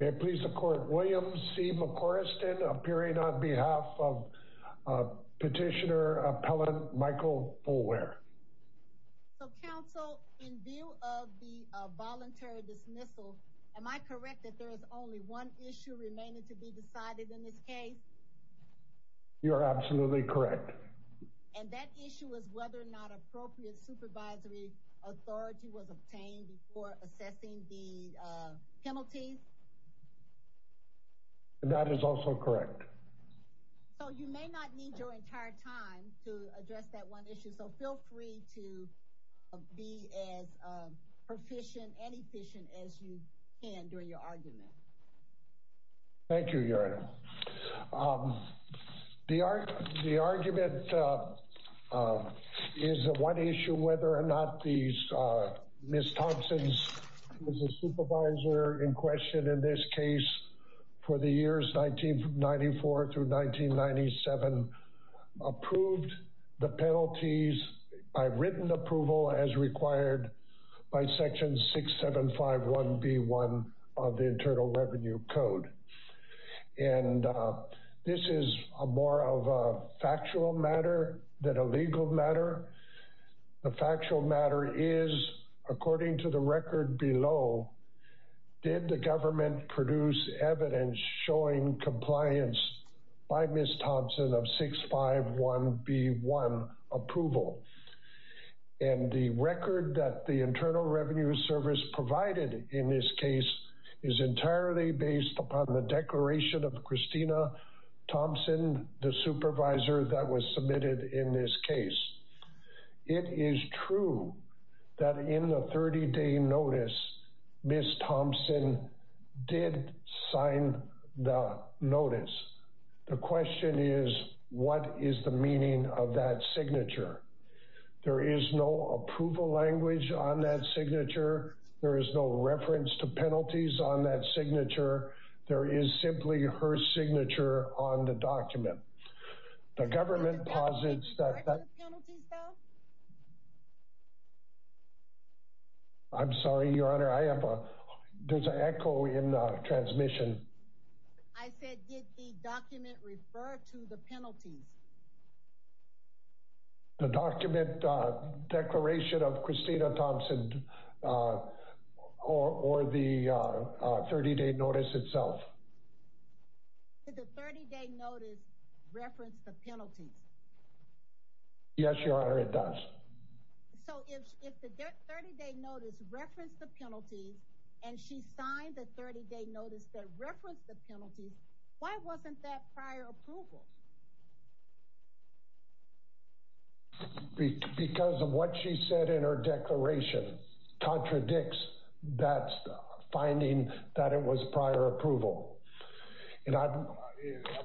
William C. McCorriston appearing on behalf of Petitioner Appellant Michael Boulware. So Counsel, in view of the voluntary dismissal, am I correct that there is only one issue remaining to be decided in this case? You are absolutely correct. And that issue is whether or not appropriate supervisory authority was obtained before assessing the penalties? That is also correct. So you may not need your entire time to address that one issue, so feel free to be as proficient and efficient as you can during your argument. Thank you, Your Honor. The argument is one issue whether or not Ms. Thompson, who is the supervisor in question in this case for the years 1994 through 1997, approved the penalties by written approval as required by Section 6751B1 of the Internal Revenue Code. And this is more of a factual matter than a legal matter. The factual matter is, according to the record below, did the government produce evidence showing compliance by Ms. Thompson of 651B1 approval? And the record that the Internal Revenue Service provided in this case is entirely based upon the declaration of Christina Thompson, the supervisor that was submitted in this case. It is true that in the 30-day notice, Ms. Thompson did sign the notice. The question is, what is the meaning of that signature? There is no approval language on that signature. There is no reference to penalties on that signature. There is simply her signature on the document. The government posits that... I'm sorry, Your Honor, I have a... there's an echo in the transmission. I said, did the document refer to the penalties? The document declaration of Christina Thompson or the 30-day notice itself. Did the 30-day notice reference the penalties? Yes, Your Honor, it does. So if the 30-day notice referenced the penalties and she signed the 30-day notice that referenced the penalties, why wasn't that prior approval? Because of what she said in her declaration contradicts that finding that it was prior approval. And I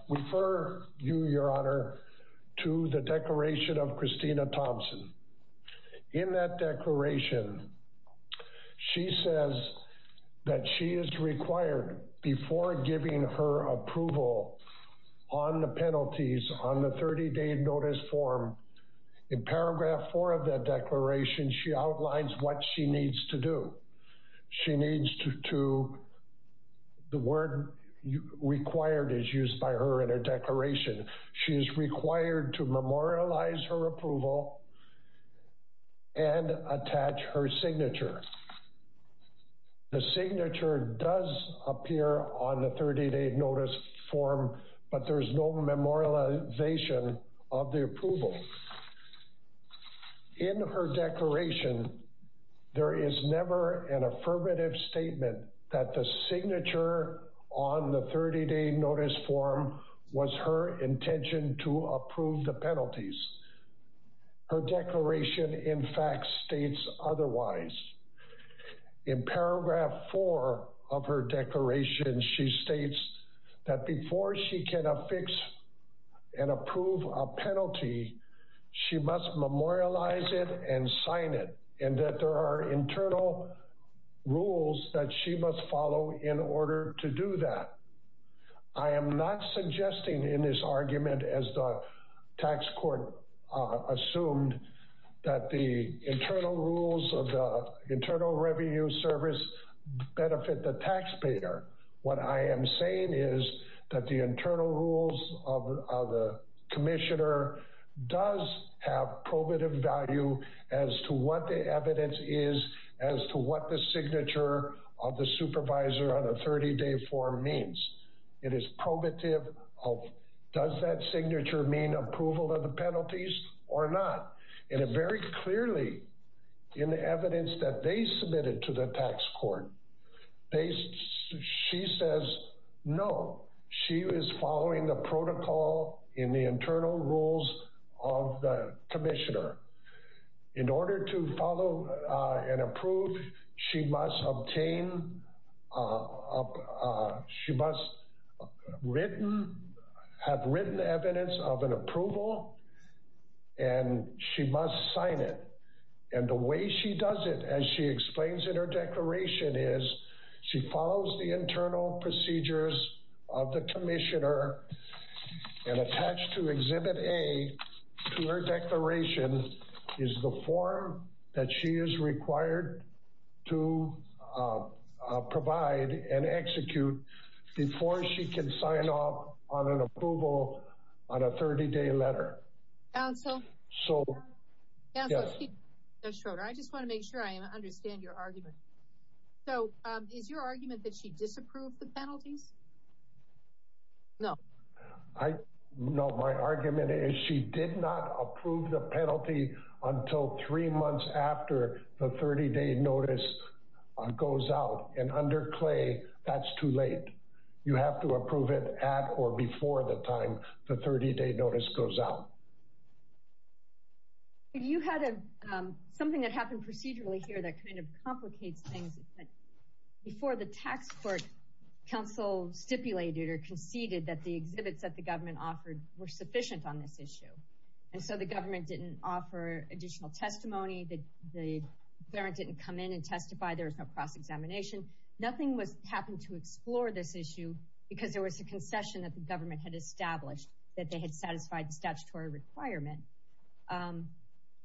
refer you, Your Honor, to the declaration of Christina Thompson. In that declaration, she says that she is required, before giving her approval on the penalties on the 30-day notice form, in paragraph four of that declaration, she outlines what she needs to do. She needs to... the word required is used by her in her declaration. She is required to memorialize her approval and attach her signature. The signature does appear on the 30-day notice form, but there is no memorialization of the approval. In her declaration, there is never an affirmative statement that the signature on the 30-day notice form was her intention to approve the penalties. Her declaration, in fact, states otherwise. In paragraph four of her declaration, she states that before she can affix and approve a penalty, she must memorialize it and sign it, and that there are internal rules that she must follow in order to do that. I am not suggesting in this argument, as the tax court assumed, that the internal rules of the Internal Revenue Service benefit the taxpayer. What I am saying is that the internal rules of the commissioner does have probative value as to what the evidence is, as to what the signature of the supervisor on a 30-day form means. It is probative of, does that signature mean approval of the penalties or not? And very clearly, in the evidence that they submitted to the tax court, she says no. She is following the protocol in the internal rules of the commissioner. In order to follow and approve, she must have written evidence of an approval, and she must sign it. And the way she does it, as she explains in her declaration, is she follows the internal procedures of the commissioner and attached to Exhibit A to her declaration is the form that she is required to provide and execute before she can sign off on an approval on a 30-day letter. Counsel, I just want to make sure I understand your argument. So is your argument that she disapproved the penalties? No. No, my argument is she did not approve the penalty until three months after the 30-day notice goes out. And under Clay, that's too late. You have to approve it at or before the time the 30-day notice goes out. You had something that happened procedurally here that kind of complicates things. Before the tax court, counsel stipulated or conceded that the exhibits that the government offered were sufficient on this issue. And so the government didn't offer additional testimony, the parent didn't come in and testify, there was no cross-examination. Nothing happened to explore this issue because there was a concession that the government had established that they had satisfied the statutory requirement.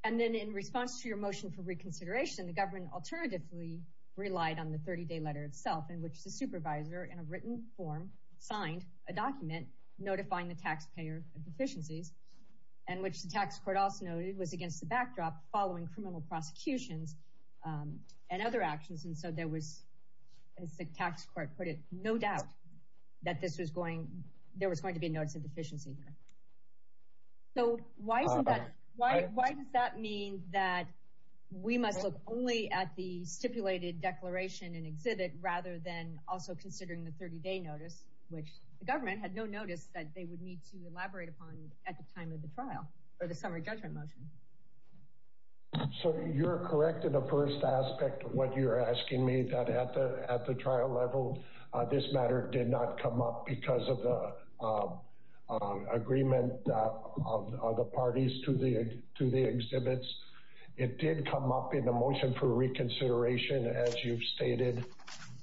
And then in response to your motion for reconsideration, the government alternatively relied on the 30-day letter itself in which the supervisor in a written form signed a document notifying the taxpayer of deficiencies and which the tax court also noted was against the backdrop following criminal prosecutions and other actions. And so there was, as the tax court put it, no doubt that there was going to be a notice of deficiency here. So why does that mean that we must look only at the stipulated declaration and exhibit rather than also considering the 30-day notice, which the government had no notice that they would need to elaborate upon at the time of the trial or the summary judgment motion? So you're correct in the first aspect of what you're asking me, that at the trial level, this matter did not come up because of the agreement of the parties to the exhibits. It did come up in the motion for reconsideration, as you've stated.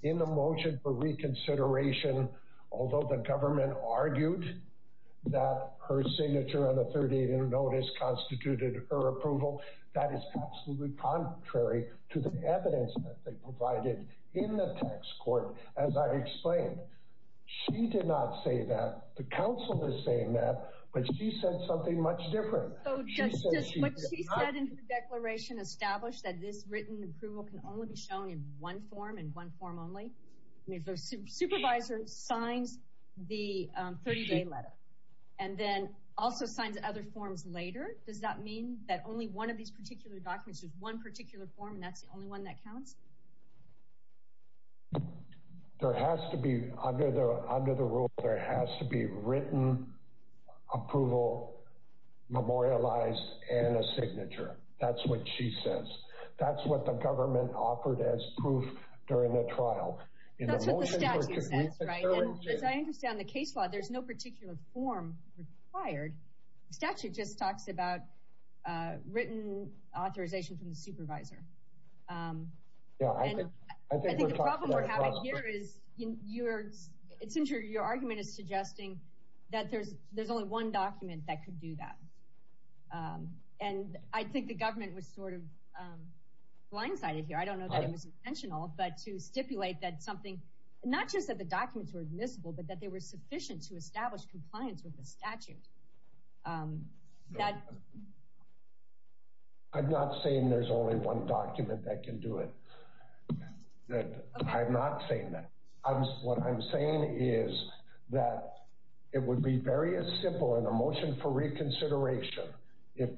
In the motion for reconsideration, although the government argued that her signature on the 30-day notice constituted her approval, that is absolutely contrary to the evidence that they provided in the tax court. As I explained, she did not say that. The council is saying that. But she said something much different. So just what she said in her declaration established that this written approval can only be shown in one form and one form only. If a supervisor signs the 30-day letter and then also signs other forms later, does that mean that only one of these particular documents, there's one particular form, and that's the only one that counts? There has to be, under the rule, there has to be written approval memorialized and a signature. That's what she says. That's what the government offered as proof during the trial. That's what the statute says, right? And as I understand the case law, there's no particular form required. The statute just talks about written authorization from the supervisor. I think the problem we're having here is your argument is suggesting that there's only one document that could do that. And I think the government was sort of blindsided here. I don't know that it was intentional, but to stipulate that something, not just that the documents were admissible, but that they were sufficient to establish compliance with the statute. I'm not saying there's only one document that can do it. I'm not saying that. What I'm saying is that it would be very simple in a motion for reconsideration if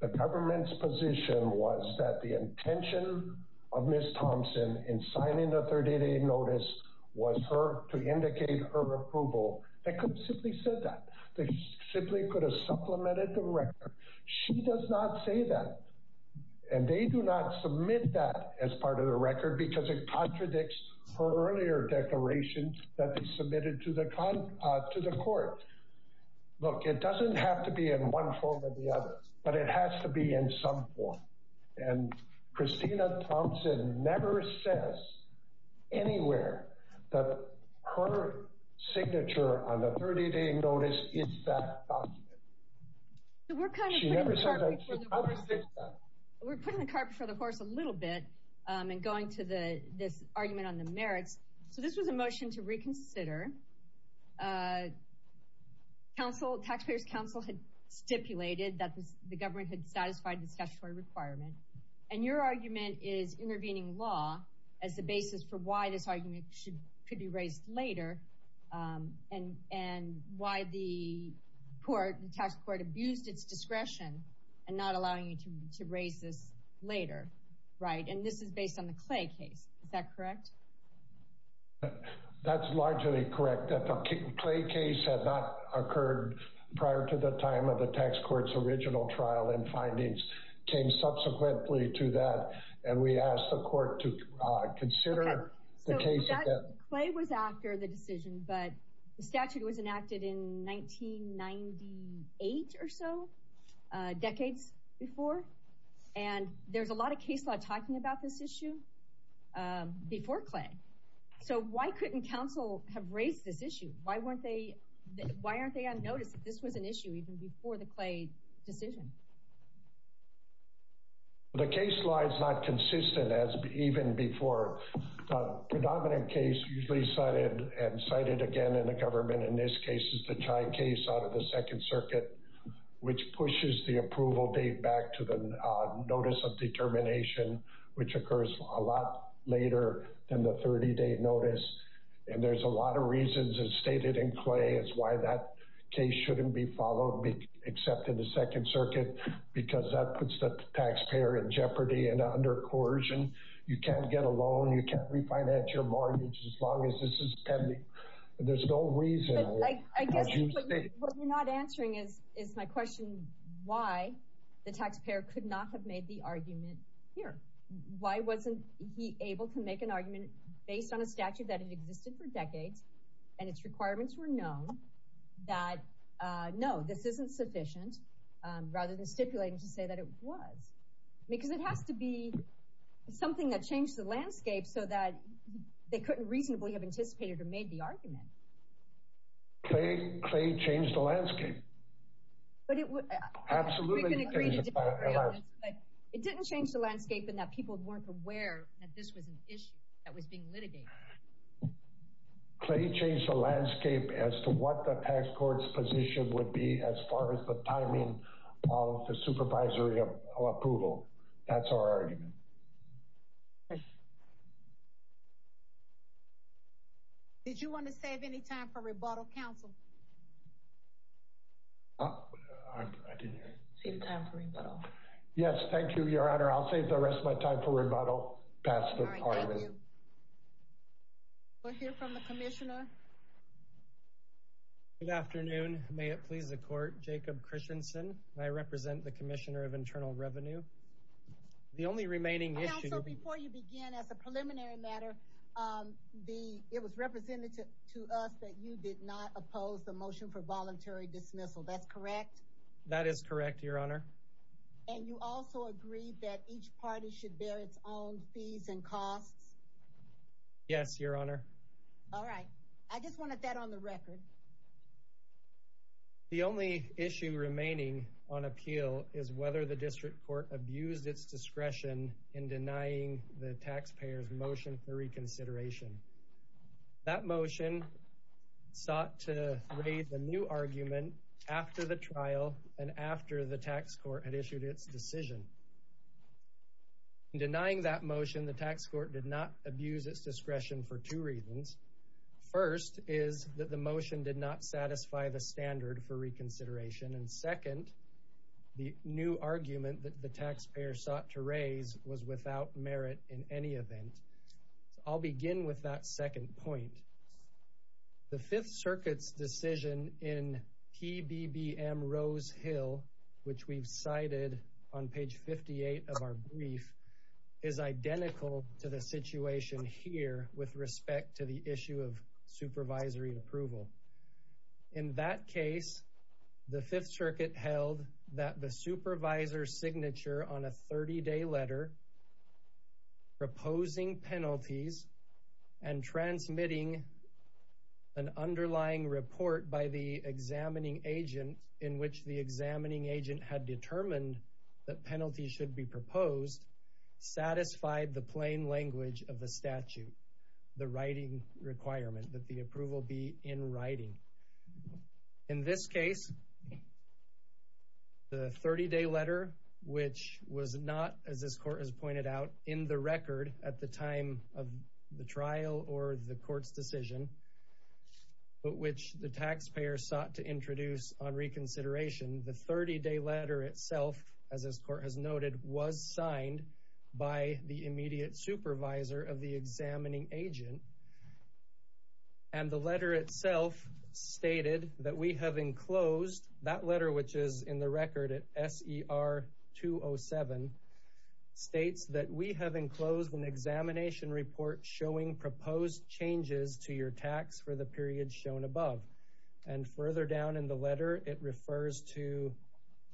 the government's position was that the intention of Ms. Thompson in signing the 38-day notice was to indicate her approval. They could have simply said that. They simply could have supplemented the record. She does not say that, and they do not submit that as part of the record because it contradicts her earlier declarations that they submitted to the court. Look, it doesn't have to be in one form or the other, but it has to be in some form. And Christina Thompson never says anywhere that her signature on the 38-day notice is that document. She never says that. We're putting the carpet before the horse a little bit and going to this argument on the merits. So this was a motion to reconsider. Taxpayers' counsel had stipulated that the government had satisfied this statutory requirement, and your argument is intervening law as the basis for why this argument could be raised later and why the tax court abused its discretion in not allowing you to raise this later. Right, and this is based on the Clay case. Is that correct? That's largely correct. The Clay case had not occurred prior to the time of the tax court's original trial, and findings came subsequently to that, and we asked the court to consider the case again. Clay was after the decision, but the statute was enacted in 1998 or so, decades before. And there's a lot of case law talking about this issue before Clay. So why couldn't counsel have raised this issue? Why aren't they on notice that this was an issue even before the Clay decision? The case law is not consistent as even before. A predominant case usually cited and cited again in the government in this case out of the Second Circuit, which pushes the approval date back to the notice of determination, which occurs a lot later than the 30-day notice. And there's a lot of reasons as stated in Clay as why that case shouldn't be followed, except in the Second Circuit, because that puts the taxpayer in jeopardy and under coercion. You can't get a loan. You can't refinance your mortgage as long as this is pending. There's no reason. I guess what you're not answering is my question why the taxpayer could not have made the argument here. Why wasn't he able to make an argument based on a statute that had existed for decades and its requirements were known that, no, this isn't sufficient, rather than stipulating to say that it was? Because it has to be something that changed the landscape so that they couldn't reasonably have anticipated or made the argument. Clay changed the landscape. But it didn't change the landscape in that people weren't aware that this was an issue that was being litigated. Clay changed the landscape as to what the tax court's position would be as far as the timing of the supervisory approval. That's our argument. Did you want to save any time for rebuttal, Counsel? I didn't hear you. Save time for rebuttal. Yes, thank you, Your Honor. I'll save the rest of my time for rebuttal. All right, thank you. We'll hear from the Commissioner. Good afternoon. May it please the Court. Jacob Christensen, and I represent the Commissioner of Internal Revenue. The only remaining issue... You represented to us that you did not oppose the motion for voluntary dismissal. That's correct? That is correct, Your Honor. And you also agreed that each party should bear its own fees and costs? Yes, Your Honor. All right. I just wanted that on the record. The only issue remaining on appeal is whether the District Court abused its discretion in denying the taxpayers' motion for reconsideration. That motion sought to raise a new argument after the trial and after the tax court had issued its decision. In denying that motion, the tax court did not abuse its discretion for two reasons. First is that the motion did not satisfy the standard for reconsideration. And second, the new argument that the taxpayer sought to raise was without merit in any event. I'll begin with that second point. The Fifth Circuit's decision in PBBM Rose Hill, which we've cited on page 58 of our brief, is identical to the situation here with respect to the issue of supervisory approval. In that case, the Fifth Circuit held that the supervisor's signature on a 30-day letter proposing penalties and transmitting an underlying report by the examining agent in which the examining agent had determined that penalties should be proposed satisfied the plain language of the statute, the writing requirement, that the approval be in writing. In this case, the 30-day letter, which was not, as this court has pointed out, in the record at the time of the trial or the court's decision, but which the taxpayer sought to introduce on reconsideration, the 30-day letter itself, as this court has noted, was signed by the immediate supervisor of the examining agent. And the letter itself stated that we have enclosed that letter, which is in the record at SER 207, states that we have enclosed an examination report showing proposed changes to your tax for the period shown above. And further down in the letter, it refers to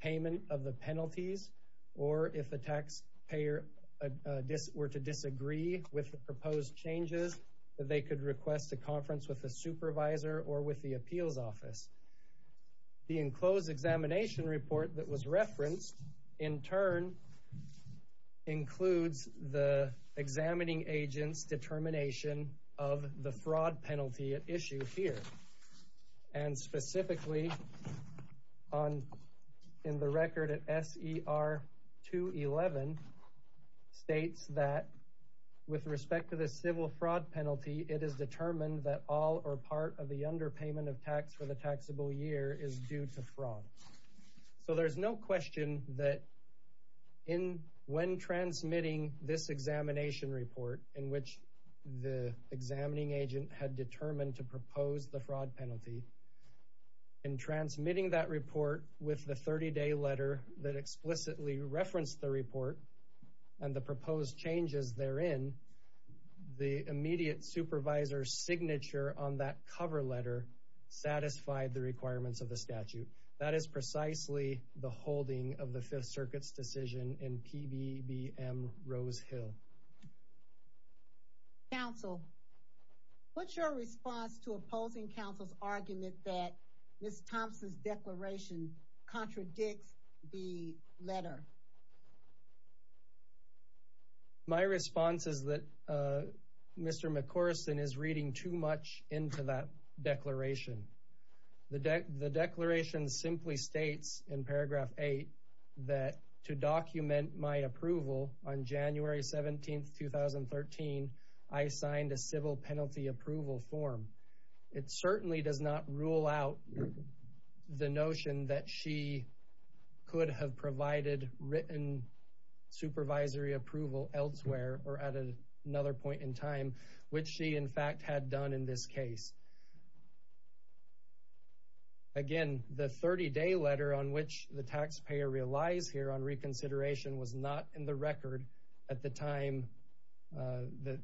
payment of the penalties, or if the taxpayer were to disagree with the proposed changes, that they could request a conference with the supervisor or with the appeals office. The enclosed examination report that was referenced, in turn, includes the examining agent's determination of the fraud penalty at issue here. And specifically, in the record at SER 211, states that with respect to the civil fraud penalty, it is determined that all or part of the underpayment of tax for the taxable year is due to fraud. So there's no question that when transmitting this examination report, in which the examining agent had determined to propose the fraud penalty, in transmitting that report with the 30-day letter that explicitly referenced the report and the proposed changes therein, the immediate supervisor's signature on that cover letter satisfied the requirements of the statute. That is precisely the holding of the Fifth Circuit's decision in PBBM Rose Hill. Counsel, what's your response to opposing counsel's argument that Ms. Thompson's declaration contradicts the letter? My response is that Mr. McCorson is reading too much into that declaration. The declaration simply states in paragraph 8 that, to document my approval on January 17, 2013, I signed a civil penalty approval form. It certainly does not rule out the notion that she could have provided written supervisory approval elsewhere or at another point in time, which she, in fact, had done in this case. Again, the 30-day letter on which the taxpayer relies here on reconsideration was not in the record at the time that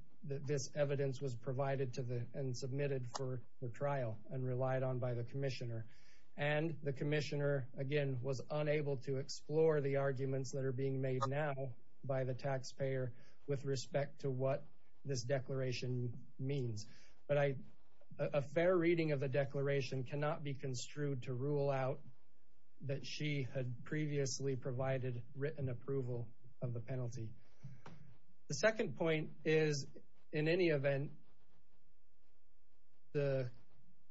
this evidence was provided and submitted for the trial and relied on by the commissioner. And the commissioner, again, was unable to explore the arguments that are being made now by the taxpayer with respect to what this declaration means. But a fair reading of the declaration cannot be construed to rule out that she had previously provided written approval of the penalty. The second point is, in any event, the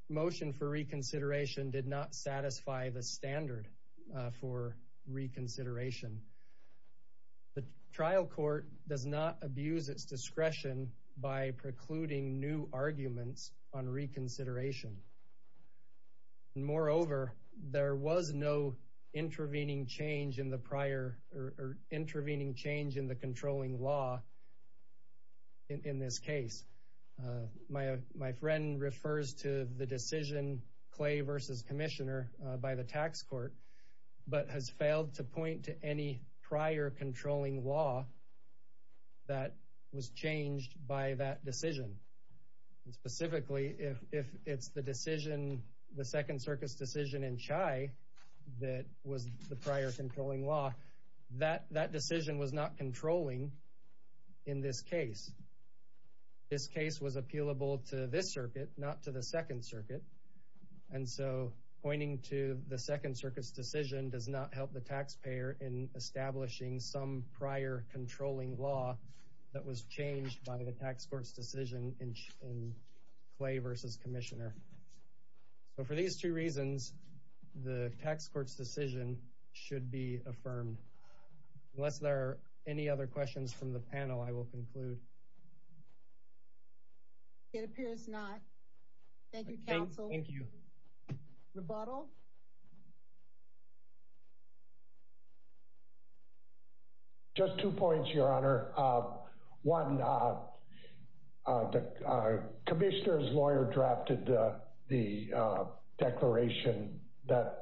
motion for reconsideration did not satisfy the standard for reconsideration. The trial court does not abuse its discretion by precluding new arguments on reconsideration. Moreover, there was no intervening change in the controlling law in this case. My friend refers to the decision, Clay v. Commissioner, by the tax court, but has failed to point to any prior controlling law that was changed by that decision. Specifically, if it's the decision, the Second Circus decision in Chai that was the prior controlling law, that decision was not controlling in this case. This case was appealable to this circuit, not to the Second Circuit. And so, pointing to the Second Circuit's decision does not help the taxpayer in establishing some prior controlling law that was changed by the tax court's decision in Clay v. Commissioner. So, for these two reasons, the tax court's decision should be affirmed. Unless there are any other questions from the panel, I will conclude. It appears not. Thank you, counsel. Thank you. Rebuttal? Just two points, Your Honor. One, the Commissioner's lawyer drafted the declaration that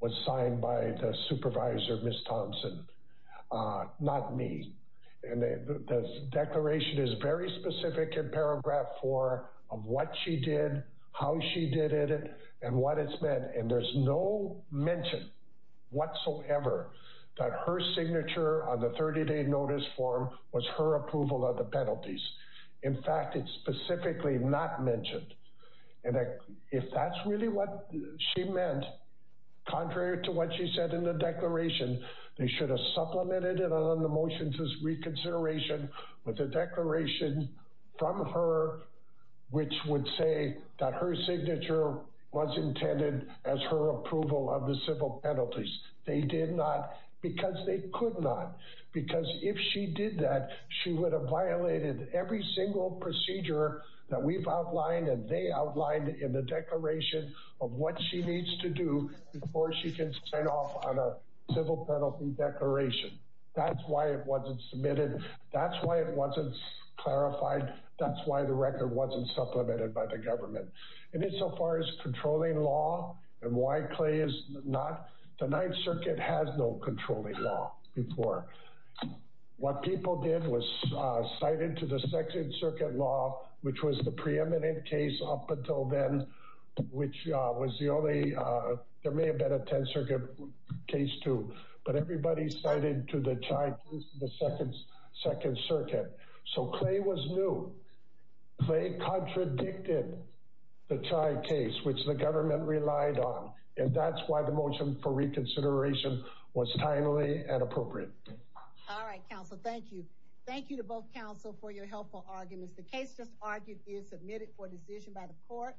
was signed by the supervisor, Ms. Thompson, not me. And the declaration is very specific in paragraph four of what she did, how she did it, and what it's meant. And there's no mention whatsoever that her signature on the 30-day notice form was her approval of the penalties. In fact, it's specifically not mentioned. And if that's really what she meant, contrary to what she said in the declaration, they should have supplemented it on the motions as reconsideration with a declaration from her, which would say that her signature was intended as her approval of the civil penalties. They did not because they could not. Because if she did that, she would have violated every single procedure that we've outlined and they outlined in the declaration of what she needs to do before she can sign off on a civil penalty declaration. That's why it wasn't submitted. That's why it wasn't clarified. That's why the record wasn't supplemented by the government. And then so far as controlling law and why Clay is not, the 9th Circuit has no controlling law before. What people did was cited to the 2nd Circuit law, which was the preeminent case up until then, which was the only, there may have been a 10th Circuit case too, but everybody cited to the 2nd Circuit. So Clay was new. Clay contradicted the Chai case, which the government relied on. And that's why the motion for reconsideration was timely and appropriate. All right, counsel. Thank you. Thank you to both counsel for your helpful arguments. The case just argued is submitted for decision by the court.